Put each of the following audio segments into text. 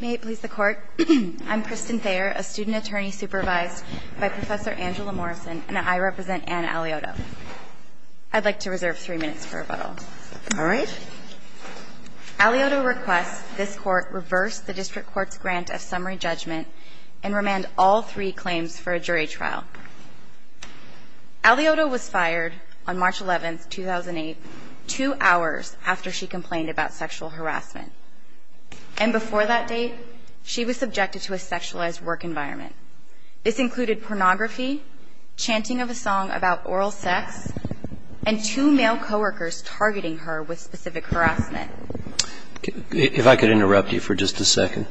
May it please the Court, I'm Kristen Thayer, a student attorney supervised by Professor Angela Morrison, and I represent Anne Alioto. I'd like to reserve three minutes for rebuttal. All right. Alioto requests this Court reverse the District Court's grant of summary judgment and remand all three claims for a jury trial. Alioto was fired on March 11, 2008, two hours after she complained about sexual harassment. And before that date, she was subjected to a sexualized work environment. This included pornography, chanting of a song about oral sex, and two male coworkers targeting her with specific harassment. If I could interrupt you for just a second.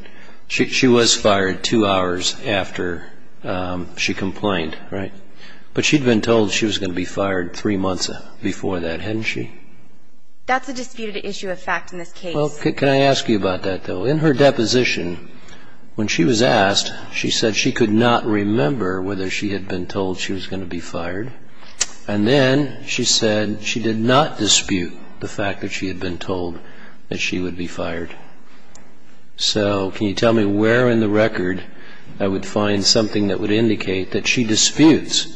She was fired two hours after she complained, right? But she'd been told she was going to be fired three months before that, hadn't she? That's a disputed issue of fact in this case. Well, can I ask you about that, though? In her deposition, when she was asked, she said she could not remember whether she had been told she was going to be fired. And then she said she did not dispute the fact that she had been told that she would be fired. So can you tell me where in the record I would find something that would indicate that she disputes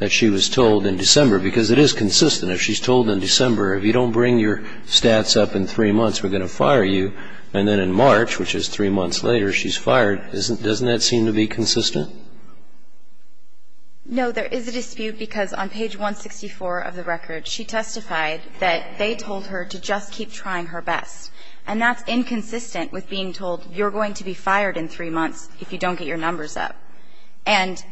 that she was told in December? Because it is consistent. If she's told in December, if you don't bring your stats up in three months, we're going to fire you. And then in March, which is three months later, she's fired. Doesn't that seem to be consistent? No. There is a dispute because on page 164 of the record, she testified that they told her to just keep trying her best. And that's inconsistent with being told you're going to be fired in three months if you don't get your numbers up. And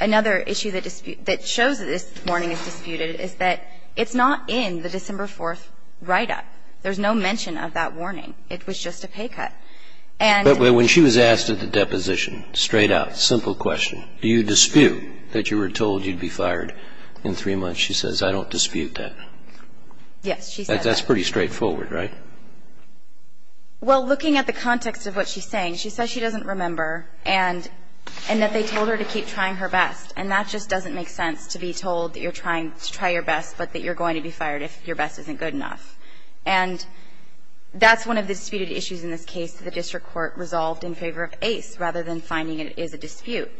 another issue that shows that this warning is disputed is that it's not in the December 4th write-up. There's no mention of that warning. It was just a pay cut. But when she was asked at the deposition, straight out, simple question, do you dispute that you were told you'd be fired in three months? She says, I don't dispute that. Yes, she says that. That's pretty straightforward, right? Well, looking at the context of what she's saying, she says she doesn't remember and that they told her to keep trying her best. And that just doesn't make sense to be told that you're trying to try your best but that you're going to be fired if your best isn't good enough. And that's one of the disputed issues in this case that the district court resolved in favor of Ace rather than finding it is a dispute.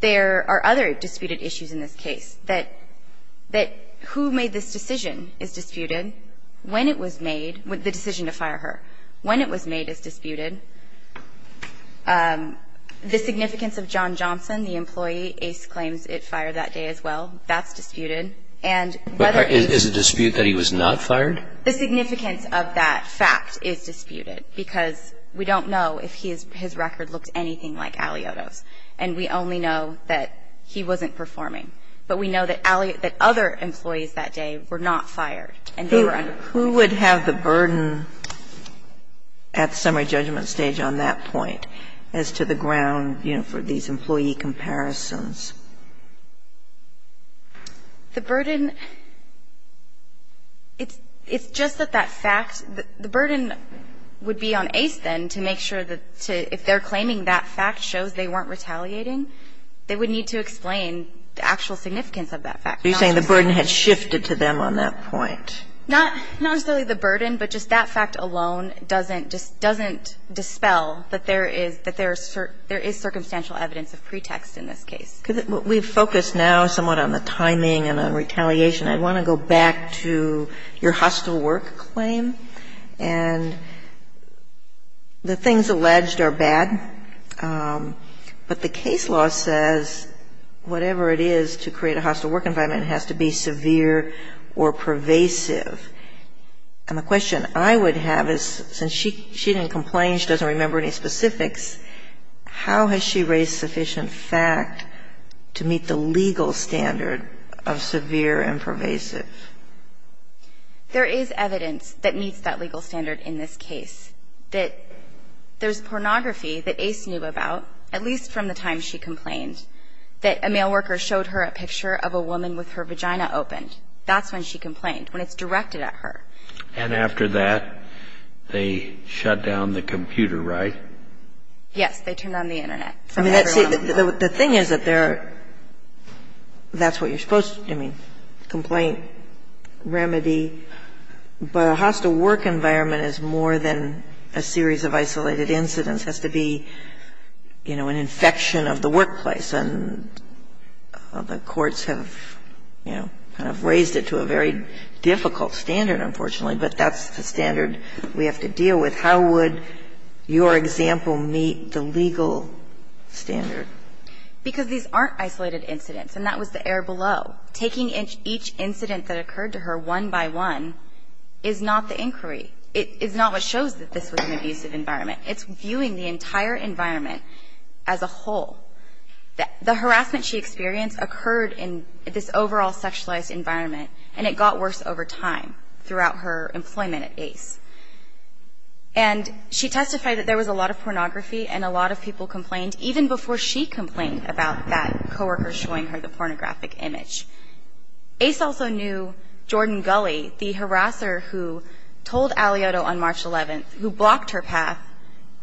There are other disputed issues in this case that who made this decision is disputed. When it was made, the decision to fire her, when it was made is disputed. The significance of John Johnson, the employee, Ace claims it fired that day as well. That's disputed. Is it a dispute that he was not fired? The significance of that fact is disputed because we don't know if his record looks anything like Alioto's. And we only know that he wasn't performing. But we know that Alioto, that other employees that day were not fired and they were under fire. Who would have the burden at summary judgment stage on that point as to the ground, you know, for these employee comparisons? The burden, it's just that that fact, the burden would be on Ace then to make sure that if they're claiming that fact shows they weren't retaliating, they would need to explain the actual significance of that fact. Are you saying the burden had shifted to them on that point? Not necessarily the burden, but just that fact alone doesn't, just doesn't dispel that there is, that there is circumstantial evidence of pretext in this case. We've focused now somewhat on the timing and on retaliation. I want to go back to your hostile work claim. And the things alleged are bad, but the case law says whatever it is to create a hostile work environment, it has to be severe or pervasive. And the question I would have is since she didn't complain, she doesn't remember any specifics, how has she raised sufficient fact to meet the legal standard of severe and pervasive? There is evidence that meets that legal standard in this case, that there's pornography that Ace knew about, at least from the time she complained, that a male worker showed her a picture of a woman with her vagina opened. That's when she complained, when it's directed at her. And after that, they shut down the computer, right? Yes. They turned on the Internet. I mean, the thing is that there are – that's what you're supposed to do. I mean, complaint, remedy. But a hostile work environment is more than a series of isolated incidents. It has to be, you know, an infection of the workplace. And the courts have, you know, kind of raised it to a very difficult standard, unfortunately, but that's the standard we have to deal with. How would your example meet the legal standard? Because these aren't isolated incidents, and that was the air below. Taking each incident that occurred to her one by one is not the inquiry. It's not what shows that this was an abusive environment. It's viewing the entire environment as a whole. The harassment she experienced occurred in this overall sexualized environment, and it got worse over time throughout her employment at Ace. And she testified that there was a lot of pornography and a lot of people complained, even before she complained about that coworker showing her the pornographic image. Ace also knew Jordan Gulley, the harasser who told Aliotto on March 11th, who blocked her path,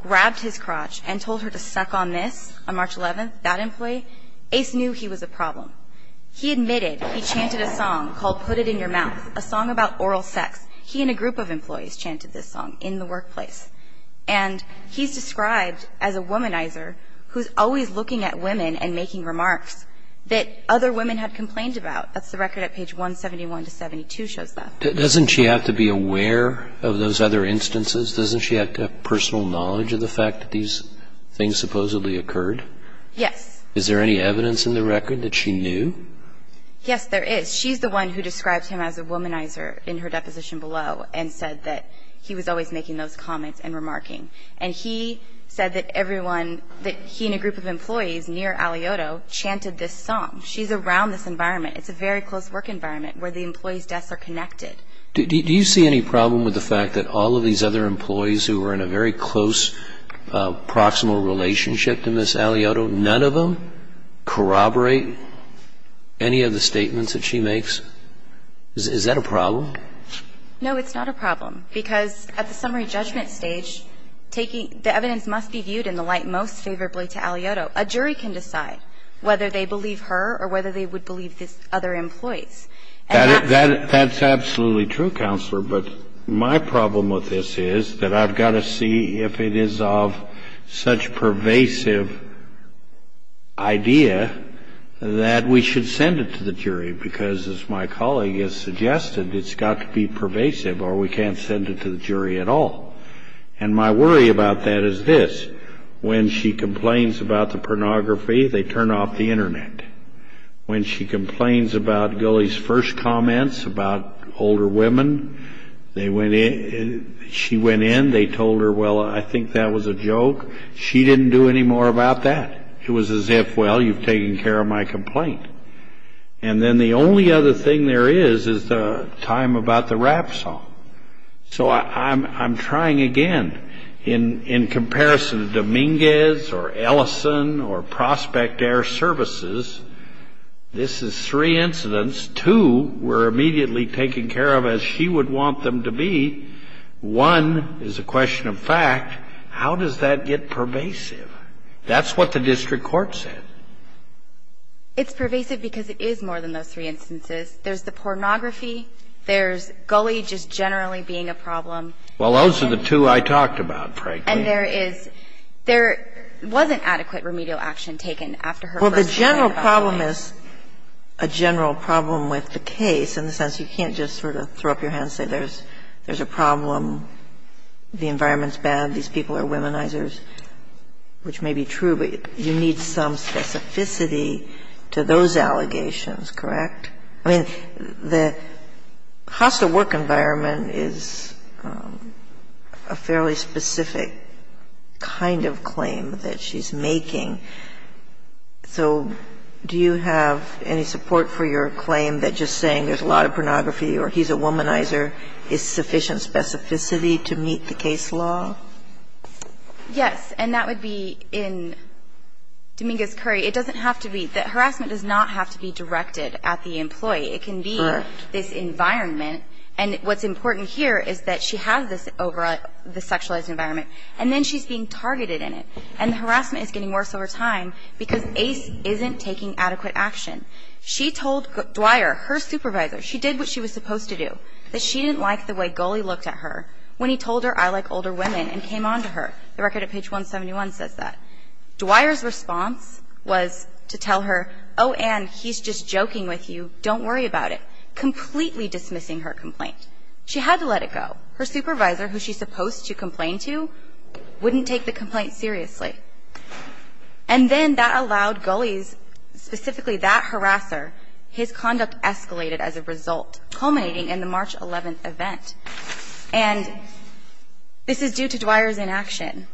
grabbed his crotch, and told her to suck on this on March 11th, that employee. Ace knew he was a problem. He admitted he chanted a song called Put It In Your Mouth, a song about oral sex. He and a group of employees chanted this song in the workplace. And he's described as a womanizer who's always looking at women and making remarks that other women had complained about. That's the record at page 171 to 172 shows that. Doesn't she have to be aware of those other instances? Doesn't she have to have personal knowledge of the fact that these things supposedly occurred? Yes. Is there any evidence in the record that she knew? Yes, there is. She's the one who described him as a womanizer in her deposition below and said that he was always making those comments and remarking. And he said that he and a group of employees near Aliotto chanted this song. She's around this environment. It's a very close work environment where the employees' deaths are connected. Do you see any problem with the fact that all of these other employees who were in a very close, proximal relationship to Ms. Aliotto, none of them corroborate any of the statements that she makes? Is that a problem? No, it's not a problem because at the summary judgment stage, the evidence must be viewed in the light most favorably to Aliotto. A jury can decide whether they believe her or whether they would believe the other employees. That's absolutely true, Counselor. But my problem with this is that I've got to see if it is of such pervasive idea that we should send it to the jury because, as my colleague has suggested, it's got to be pervasive or we can't send it to the jury at all. And my worry about that is this. When she complains about the pornography, they turn off the Internet. When she complains about Gulley's first comments about older women, she went in, they told her, well, I think that was a joke. She didn't do any more about that. It was as if, well, you've taken care of my complaint. And then the only other thing there is is the time about the rap song. So I'm trying again. In comparison to Dominguez or Ellison or Prospect Air Services, this is three incidents. Two were immediately taken care of as she would want them to be. One is a question of fact. How does that get pervasive? That's what the district court said. It's pervasive because it is more than those three instances. There's the pornography. There's Gulley just generally being a problem. Well, those are the two I talked about, frankly. And there is – there wasn't adequate remedial action taken after her first complaint. Well, the general problem is a general problem with the case in the sense you can't just sort of throw up your hands and say there's a problem, the environment's bad, these people are womanizers, which may be true, but you need some specificity to those allegations, correct? I mean, the hostile work environment is a fairly specific kind of claim that she's making. So do you have any support for your claim that just saying there's a lot of pornography or he's a womanizer is sufficient specificity to meet the case law? Yes. And that would be in Dominguez-Curry. It doesn't have to be – the harassment does not have to be directed at the employee. Correct. It can be this environment. And what's important here is that she has this sexualized environment, and then she's being targeted in it. And the harassment is getting worse over time because Ace isn't taking adequate action. She told Dwyer, her supervisor, she did what she was supposed to do, that she didn't like the way Gulley looked at her when he told her, I like older women, and came on to her. The record at page 171 says that. Dwyer's response was to tell her, oh, Anne, he's just joking with you. Don't worry about it, completely dismissing her complaint. She had to let it go. Her supervisor, who she's supposed to complain to, wouldn't take the complaint seriously. And then that allowed Gulley's, specifically that harasser, his conduct escalated as a result, culminating in the March 11th event. And this is due to Dwyer's inaction.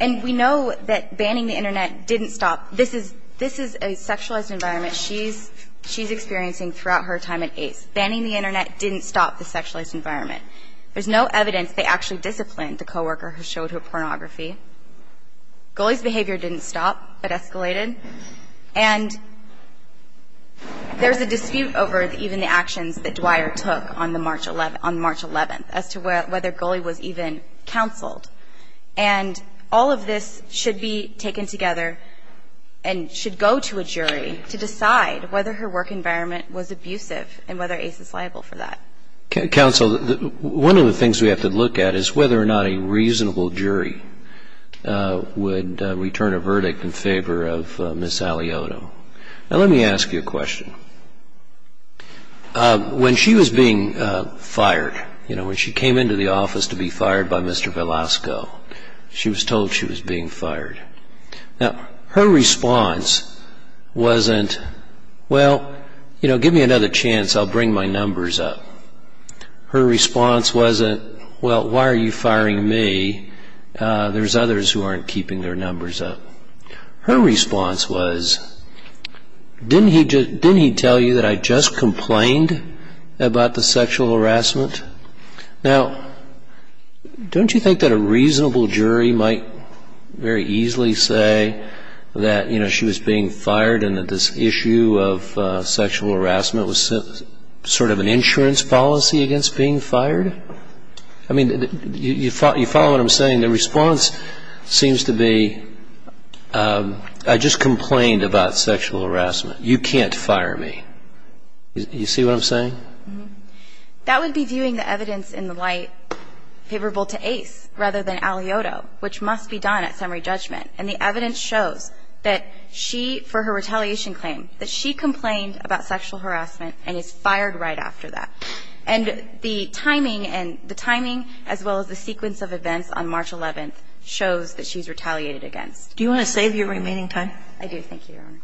And we know that banning the Internet didn't stop. This is a sexualized environment she's experiencing throughout her time at Ace. Banning the Internet didn't stop the sexualized environment. There's no evidence they actually disciplined the coworker who showed her pornography. Gulley's behavior didn't stop, but escalated. And there's a dispute over even the actions that Dwyer took on the March 11th, as to whether Gulley was even counseled. And all of this should be taken together and should go to a jury to decide whether her work environment was abusive and whether Ace is liable for that. Counsel, one of the things we have to look at is whether or not a reasonable jury would return a verdict in favor of Ms. Alioto. Now, let me ask you a question. When she was being fired, when she came into the office to be fired by Mr. Velasco, she was told she was being fired. Now, her response wasn't, well, give me another chance. I'll bring my numbers up. Her response wasn't, well, why are you firing me? There's others who aren't keeping their numbers up. Her response was, didn't he tell you that I just complained about the sexual harassment? Now, don't you think that a reasonable jury might very easily say that she was being fired and that this issue of sexual harassment was sort of an insurance policy against being fired? I mean, you follow what I'm saying? The response seems to be, I just complained about sexual harassment. You can't fire me. You see what I'm saying? That would be viewing the evidence in the light favorable to Ace rather than Alioto, which must be done at summary judgment. And the evidence shows that she, for her retaliation claim, that she complained about sexual harassment and is fired right after that. And the timing and the timing as well as the sequence of events on March 11th shows that she's retaliated against. Do you want to save your remaining time? I do. Thank you, Your Honor.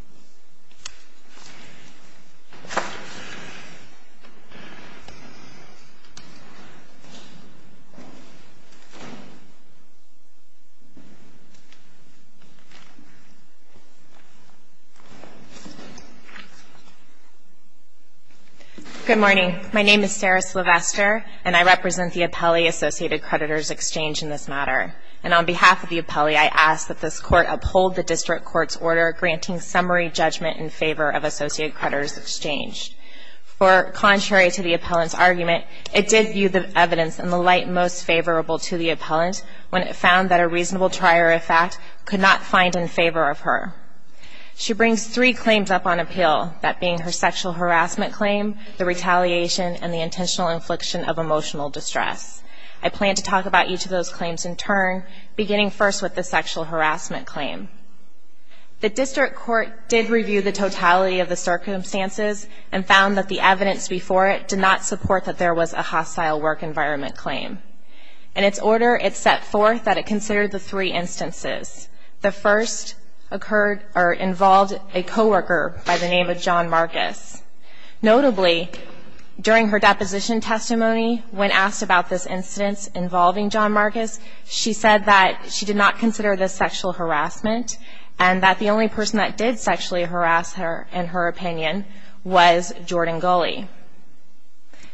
Good morning. My name is Sarah Sylvester, and I represent the appellee Associated Creditors Exchange in this matter. And on behalf of the appellee, I ask that this court uphold the district court's order granting summary judgment in favor of Associated Creditors For contrary to the appellant's argument, it did view the evidence in the light most favorable to the appellant when it found that a reasonable trier of fact could not find in favor of her. She brings three claims up on appeal, that being her sexual harassment claim, the retaliation, and the intentional infliction of emotional distress. I plan to talk about each of those claims in turn, beginning first with the sexual harassment claim. The district court did review the totality of the circumstances and found that the evidence before it did not support that there was a hostile work environment claim. In its order, it set forth that it consider the three instances. The first occurred or involved a coworker by the name of John Marcus. Notably, during her deposition testimony, when asked about this incidence involving John Marcus, she said that she did not consider this sexual harassment and that the only person that did sexually harass her, in her opinion, was Jordan Gulley.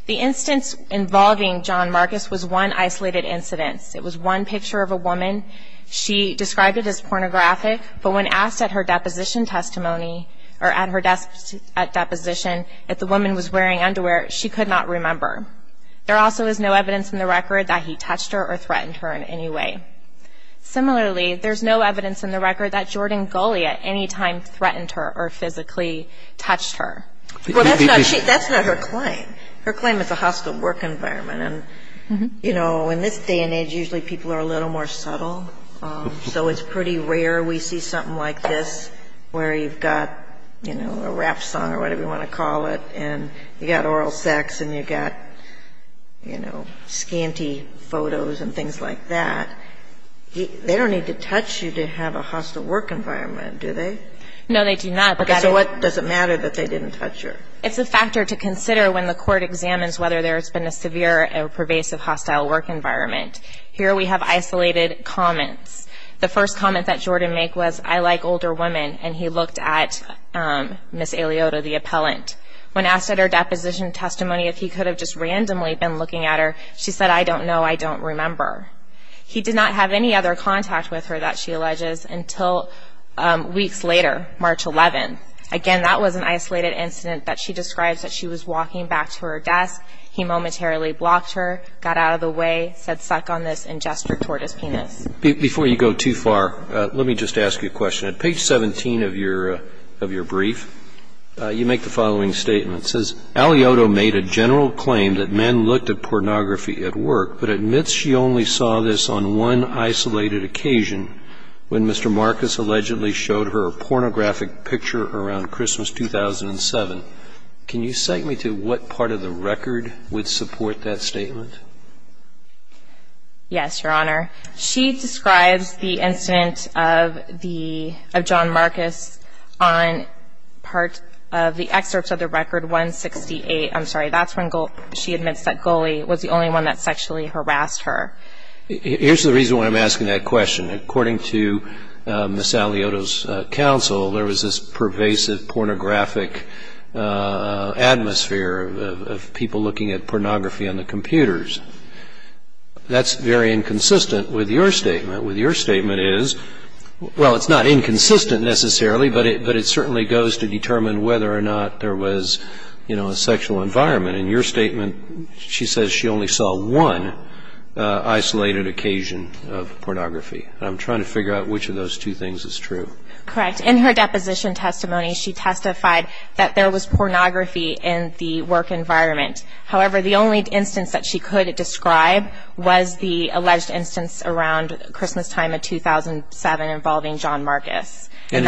The instance involving John Marcus was one isolated incidence. It was one picture of a woman. She described it as pornographic, but when asked at her deposition testimony or at her deposition if the woman was wearing underwear, she could not remember. There also is no evidence in the record that he touched her or threatened her in any way. Similarly, there's no evidence in the record that Jordan Gulley at any time threatened her or physically touched her. That's not her claim. Her claim is a hostile work environment. And, you know, in this day and age, usually people are a little more subtle, so it's pretty rare we see something like this where you've got, you know, a rap song or whatever you want to call it, and you've got oral sex and you've got, you know, scanty photos and things like that. They don't need to touch you to have a hostile work environment, do they? No, they do not. So what does it matter that they didn't touch her? It's a factor to consider when the court examines whether there's been a severe or pervasive hostile work environment. Here we have isolated comments. The first comment that Jordan made was, I like older women, and he looked at Ms. Eliota, the appellant. When asked at her deposition testimony if he could have just randomly been looking at her, she said, I don't know, I don't remember. He did not have any other contact with her, that she alleges, until weeks later, March 11th. Again, that was an isolated incident that she describes that she was walking back to her desk, he momentarily blocked her, got out of the way, said suck on this, and gestured toward his penis. Before you go too far, let me just ask you a question. At page 17 of your brief, you make the following statement. It says, Eliota made a general claim that men looked at pornography at work, but admits she only saw this on one isolated occasion, when Mr. Marcus allegedly showed her a pornographic picture around Christmas 2007. Can you cite me to what part of the record would support that statement? Yes, Your Honor. She describes the incident of John Marcus on part of the excerpts of the record 168. I'm sorry, that's when she admits that Goley was the only one that sexually harassed her. Here's the reason why I'm asking that question. According to Ms. Eliota's counsel, there was this pervasive pornographic atmosphere of people looking at pornography on the computers. That's very inconsistent with your statement. What your statement is, well, it's not inconsistent necessarily, but it certainly goes to determine whether or not there was, you know, a sexual environment. In your statement, she says she only saw one isolated occasion of pornography. I'm trying to figure out which of those two things is true. Correct. In her deposition testimony, she testified that there was pornography in the work environment. However, the only instance that she could describe was the alleged instance around Christmastime of 2007 involving John Marcus. And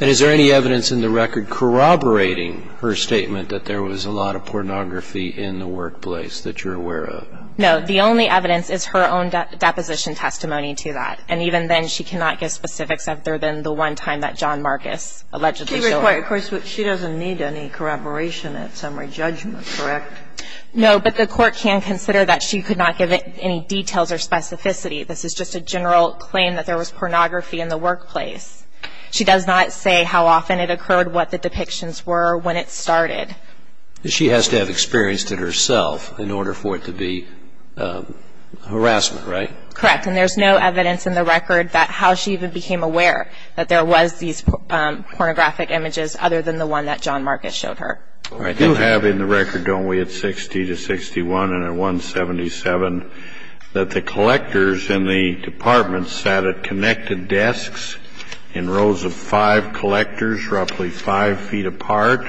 is there any evidence in the record corroborating her statement that there was a lot of pornography in the workplace that you're aware of? No. The only evidence is her own deposition testimony to that. And even then, she cannot give specifics other than the one time that John Marcus allegedly saw her. She doesn't need any corroboration at summary judgment, correct? No. But the court can consider that she could not give any details or specificity. This is just a general claim that there was pornography in the workplace. She does not say how often it occurred, what the depictions were, when it started. She has to have experienced it herself in order for it to be harassment, right? Correct. And there's no evidence in the record that how she even became aware that there was these pornographic images other than the one that John Marcus showed her. I do have in the record, don't we, at 60 to 61 and at 177, that the collectors in the department sat at connected desks in rows of five collectors, roughly five feet apart,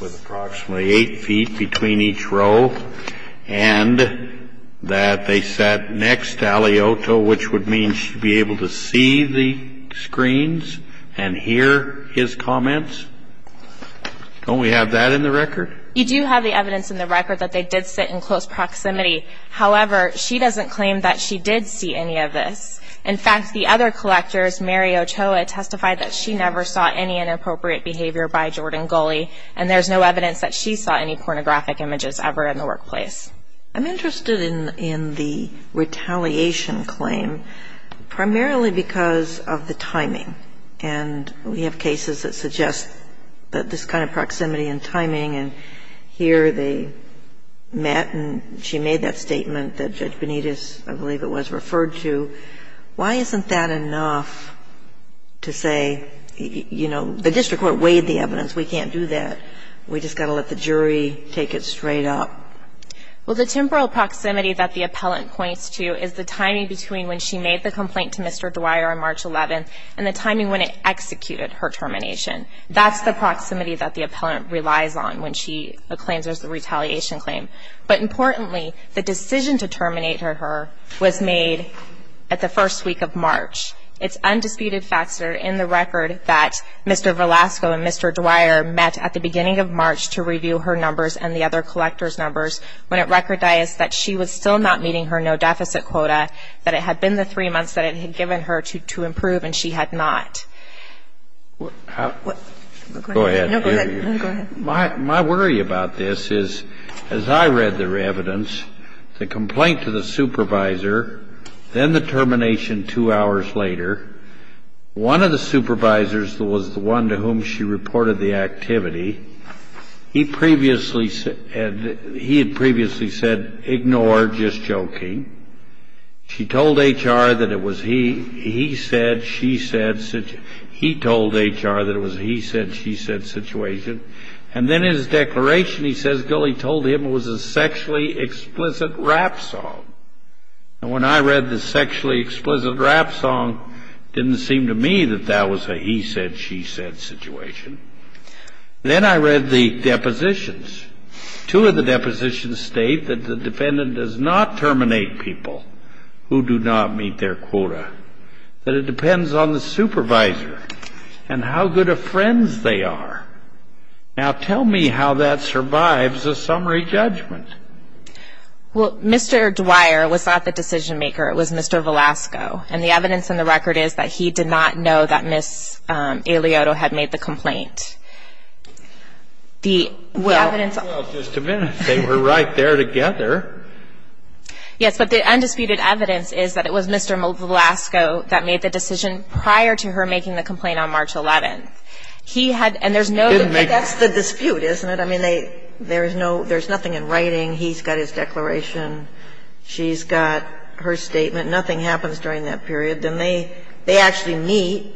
with approximately eight feet between each row, and that they sat next to Ali Oto, which would mean she'd be able to see the screens and hear his comments. Don't we have that in the record? You do have the evidence in the record that they did sit in close proximity. However, she doesn't claim that she did see any of this. In fact, the other collectors, Mary Ochoa, testified that she never saw any inappropriate behavior by Jordan Goley, and there's no evidence that she saw any pornographic images ever in the workplace. I'm interested in the retaliation claim primarily because of the timing. And we have cases that suggest that this kind of proximity and timing, and here they met and she made that statement that Judge Benitez, I believe it was, referred to, why isn't that enough to say, you know, the district court weighed the evidence. We can't do that. We just got to let the jury take it straight up. Well, the temporal proximity that the appellant points to is the timing between when she made the complaint to Mr. Dwyer on March 11th and the timing when it executed her termination. That's the proximity that the appellant relies on when she claims there's a retaliation claim. But importantly, the decision to terminate her was made at the first week of March. It's undisputed facts that are in the record that Mr. Velasco and Mr. Dwyer met at the beginning of March to review her numbers and the other collectors' numbers when it recordized that she was still not meeting her no-deficit quota, that it had been the three months that it had given her to improve and she had not. Go ahead. No, go ahead. My worry about this is, as I read the evidence, the complaint to the supervisor, then the termination two hours later. One of the supervisors was the one to whom she reported the activity. He had previously said, ignore, just joking. She told HR that it was he said, she said. He told HR that it was a he said, she said situation. And then in his declaration, he says, no, he told him it was a sexually explicit rap song. And when I read the sexually explicit rap song, it didn't seem to me that that was a he said, she said situation. Then I read the depositions. Two of the depositions state that the defendant does not terminate people who do not meet their quota, that it depends on the supervisor and how good of friends they are. Now, tell me how that survives a summary judgment. Well, Mr. Dwyer was not the decision maker. It was Mr. Velasco. And the evidence in the record is that he did not know that Ms. Eliotto had made the complaint. The evidence. Well, just a minute. They were right there together. Yes, but the undisputed evidence is that it was Mr. Velasco that made the decision prior to her making the complaint on March 11th. He had, and there's no. But that's the dispute, isn't it? I mean, they, there's no, there's nothing in writing. He's got his declaration. She's got her statement. Nothing happens during that period. Then they, they actually meet.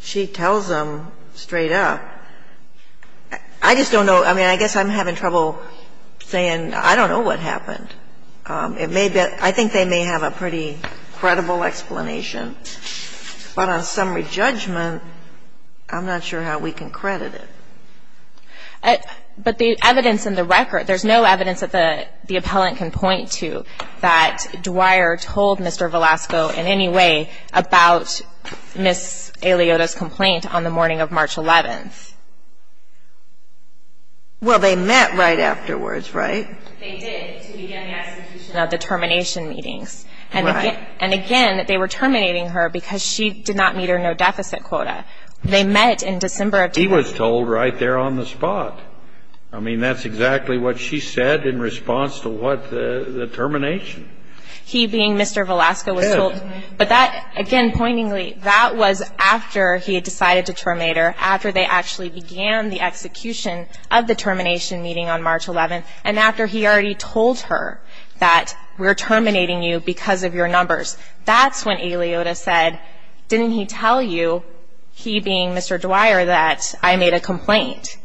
She tells them straight up. I just don't know. I mean, I guess I'm having trouble saying I don't know what happened. It may be, I think they may have a pretty credible explanation. But on summary judgment, I'm not sure how we can credit it. But the evidence in the record, there's no evidence that the appellant can point to that Dwyer told Mr. Velasco in any way about Ms. Eliotto's complaint on the morning of March 11th. Well, they met right afterwards, right? They did to begin the execution of the termination meetings. Right. And again, they were terminating her because she did not meet her no-deficit quota. They met in December. He was told right there on the spot. I mean, that's exactly what she said in response to what, the termination. He being Mr. Velasco was told. But that, again, pointingly, that was after he had decided to terminate her, after they actually began the execution of the termination meeting on March 11th, and after he already told her that we're terminating you because of your numbers. That's when Eliotto said, didn't he tell you, he being Mr. Dwyer, that I made a complaint?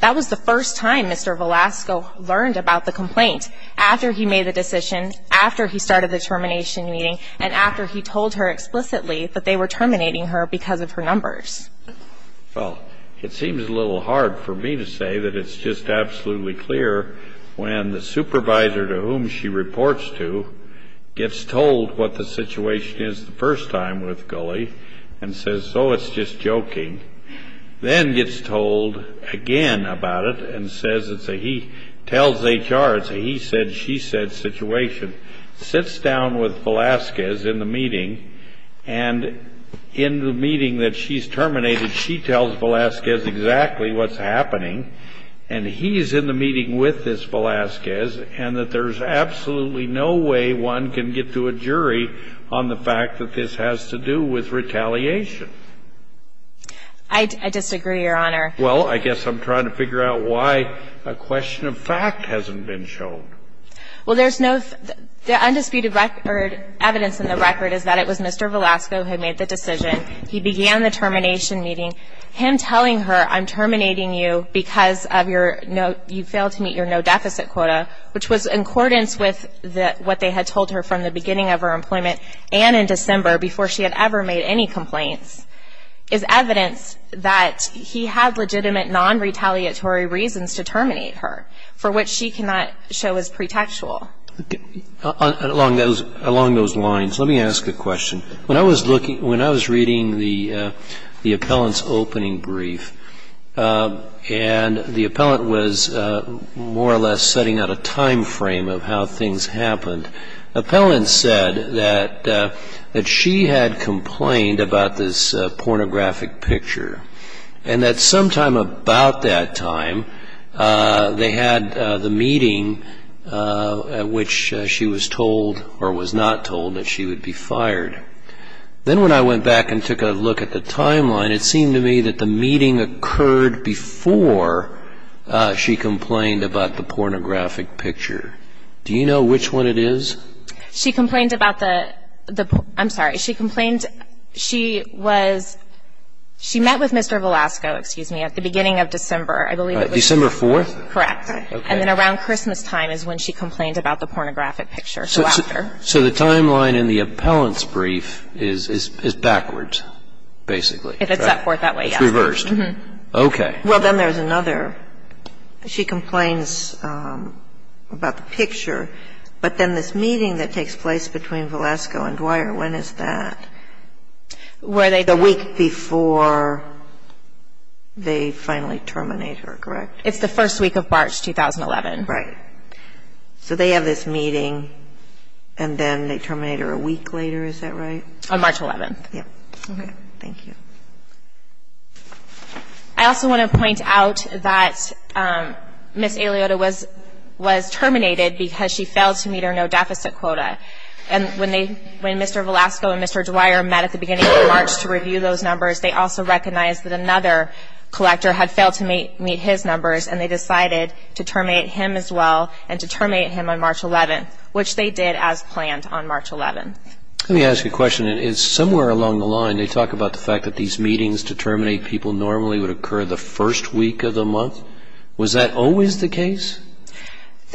That was the first time Mr. Velasco learned about the complaint, after he made the decision, after he started the termination meeting, and after he told her explicitly that they were terminating her because of her numbers. Well, it seems a little hard for me to say that it's just absolutely clear when the supervisor to whom she reports to gets told what the situation is the first time with Gulley and says, oh, it's just joking, then gets told again about it and says, he tells HR, he said, she said situation, sits down with Velasquez in the meeting, and in the meeting that she's terminated, she tells Velasquez exactly what's happening, and he's in the meeting with this Velasquez, and that there's absolutely no way one can get to a jury on the fact that this has to do with retaliation. I disagree, Your Honor. Well, I guess I'm trying to figure out why a question of fact hasn't been shown. Well, there's no undisputed evidence in the record is that it was Mr. Velasco who made the decision. He began the termination meeting. Him telling her, I'm terminating you because you failed to meet your no-deficit quota, which was in accordance with what they had told her from the beginning of her employment and in December before she had ever made any complaints, is evidence that he had legitimate non-retaliatory reasons to terminate her, for which she cannot show as pretextual. Along those lines, let me ask a question. When I was reading the appellant's opening brief, and the appellant was more or less setting out a time frame of how things happened, the appellant said that she had complained about this pornographic picture and that sometime about that time they had the meeting at which she was told, or was not told, that she would be fired. Then when I went back and took a look at the timeline, it seemed to me that the meeting occurred before she complained about the pornographic picture. Do you know which one it is? She complained about the – I'm sorry. She complained she was – she met with Mr. Velasco, excuse me, at the beginning of December. December 4th? Correct. Okay. And then around Christmastime is when she complained about the pornographic picture. So the timeline in the appellant's brief is backwards, basically. If it's set forth that way, yes. It's reversed. Okay. Well, then there's another. She complains about the picture, but then this meeting that takes place between Velasco and Dwyer, when is that? The week before they finally terminate her, correct? It's the first week of March 2011. Right. So they have this meeting, and then they terminate her a week later, is that right? On March 11th. Yes. Okay. Thank you. I also want to point out that Ms. Eliota was terminated because she failed to meet her no-deficit quota. And when Mr. Velasco and Mr. Dwyer met at the beginning of March to review those numbers, they also recognized that another collector had failed to meet his numbers, and they decided to terminate him as well and to terminate him on March 11th, which they did as planned on March 11th. Let me ask you a question. Somewhere along the line they talk about the fact that these meetings to terminate people normally would occur the first week of the month. Was that always the case?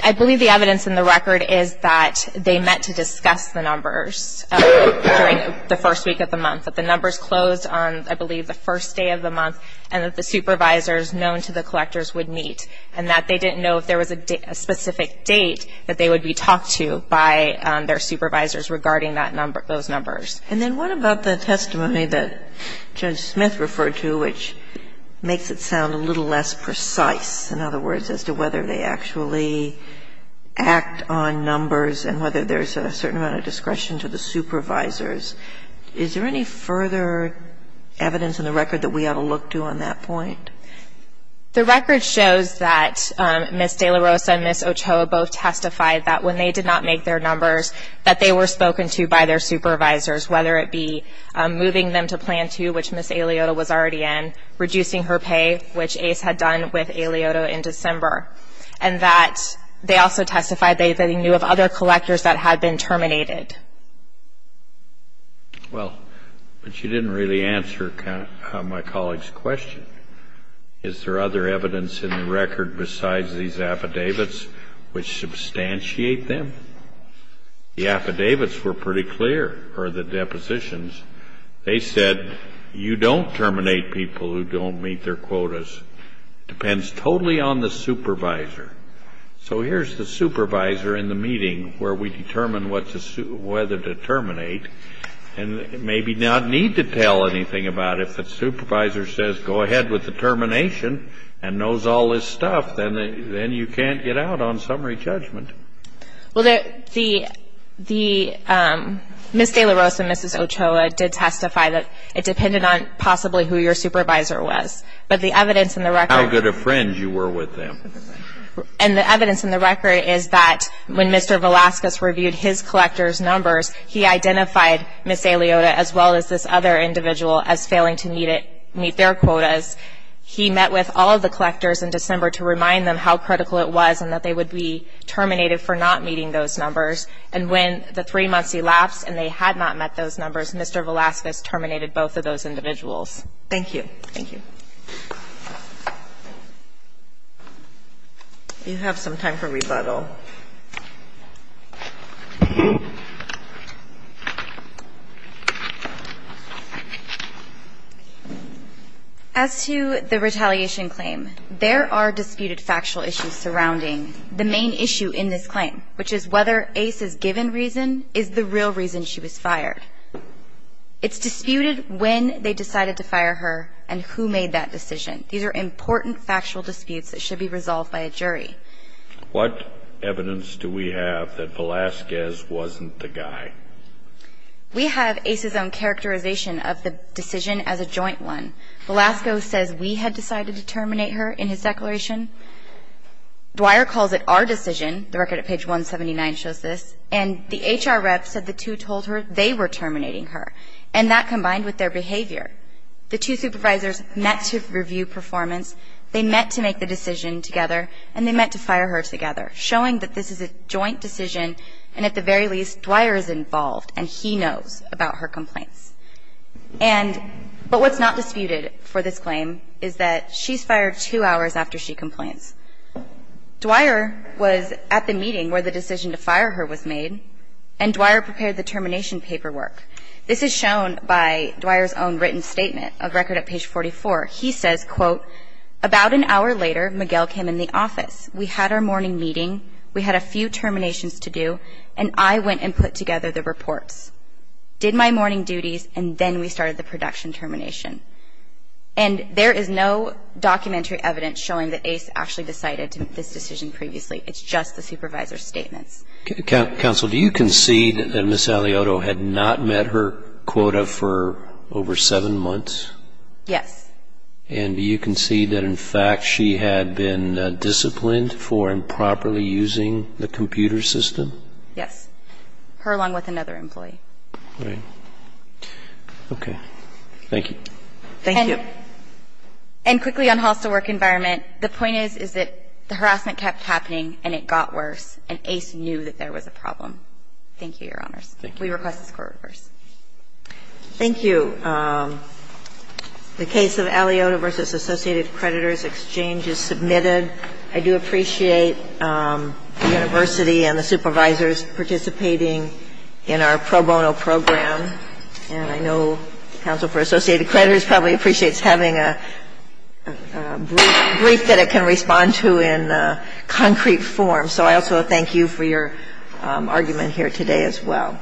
I believe the evidence in the record is that they meant to discuss the numbers during the first week of the month, that the numbers closed on, I believe, the first day of the month, and that the supervisors known to the collectors would meet, and that they didn't know if there was a specific date that they would be talked to by their supervisors regarding that number, those numbers. And then what about the testimony that Judge Smith referred to, which makes it sound a little less precise, in other words, as to whether they actually act on numbers and whether there's a certain amount of discretion to the supervisors? Is there any further evidence in the record that we ought to look to on that point? The record shows that Ms. De La Rosa and Ms. Ochoa both testified that when they did not make their numbers, that they were spoken to by their supervisors, whether it be moving them to Plan 2, which Ms. Aliota was already in, reducing her pay, which Ace had done with Aliota in December, and that they also testified they knew of other collectors that had been terminated. Well, but you didn't really answer my colleague's question. Is there other evidence in the record besides these affidavits which substantiate them? The affidavits were pretty clear, or the depositions. They said you don't terminate people who don't meet their quotas. It depends totally on the supervisor. So here's the supervisor in the meeting where we determine whether to terminate and maybe not need to tell anything about it. If the supervisor says, go ahead with the termination and knows all this stuff, then you can't get out on summary judgment. Well, Ms. De La Rosa and Ms. Ochoa did testify that it depended on possibly who your supervisor was. But the evidence in the record— How good of friends you were with them. And the evidence in the record is that when Mr. Velasquez reviewed his collector's numbers, he identified Ms. Eliota as well as this other individual as failing to meet their quotas. He met with all of the collectors in December to remind them how critical it was and that they would be terminated for not meeting those numbers. And when the three months elapsed and they had not met those numbers, Mr. Velasquez terminated both of those individuals. Thank you. Thank you. You have some time for rebuttal. As to the retaliation claim, there are disputed factual issues surrounding the main issue in this claim, which is whether Ace's given reason is the real reason she was fired. It's disputed when they decided to fire her and who made that decision. These are important factual disputes that should be resolved by a jury. What evidence do we have that Velasquez wasn't the guy? We have Ace's own characterization of the decision as a joint one. Velasco says we had decided to terminate her in his declaration. Dwyer calls it our decision. The record at page 179 shows this. And the HR rep said the two told her they were terminating her, and that combined with their behavior. The two supervisors met to review performance, they met to make the decision together, and they met to fire her together, showing that this is a joint decision and at the very least Dwyer is involved and he knows about her complaints. But what's not disputed for this claim is that she's fired two hours after she complains. Dwyer was at the meeting where the decision to fire her was made, and Dwyer prepared the termination paperwork. This is shown by Dwyer's own written statement, a record at page 44. He says, quote, about an hour later, Miguel came in the office. We had our morning meeting. We had a few terminations to do, and I went and put together the reports, did my morning duties, and then we started the production termination. And there is no documentary evidence showing that Ace actually decided to make this decision previously. It's just the supervisor's statements. Counsel, do you concede that Ms. Alioto had not met her quota for over seven months? Yes. And do you concede that, in fact, she had been disciplined for improperly using the computer system? Yes, her along with another employee. Right. Okay. Thank you. Thank you. And quickly on hostile work environment, the point is, is that the harassment kept happening and it got worse, and Ace knew that there was a problem. Thank you, Your Honors. Thank you. We request the score reverse. Thank you. The case of Alioto v. Associated Creditors Exchange is submitted. I do appreciate the university and the supervisors participating in our pro bono program. And I know Counsel for Associated Creditors probably appreciates having a brief that it can respond to in concrete form. So I also thank you for your argument here today as well.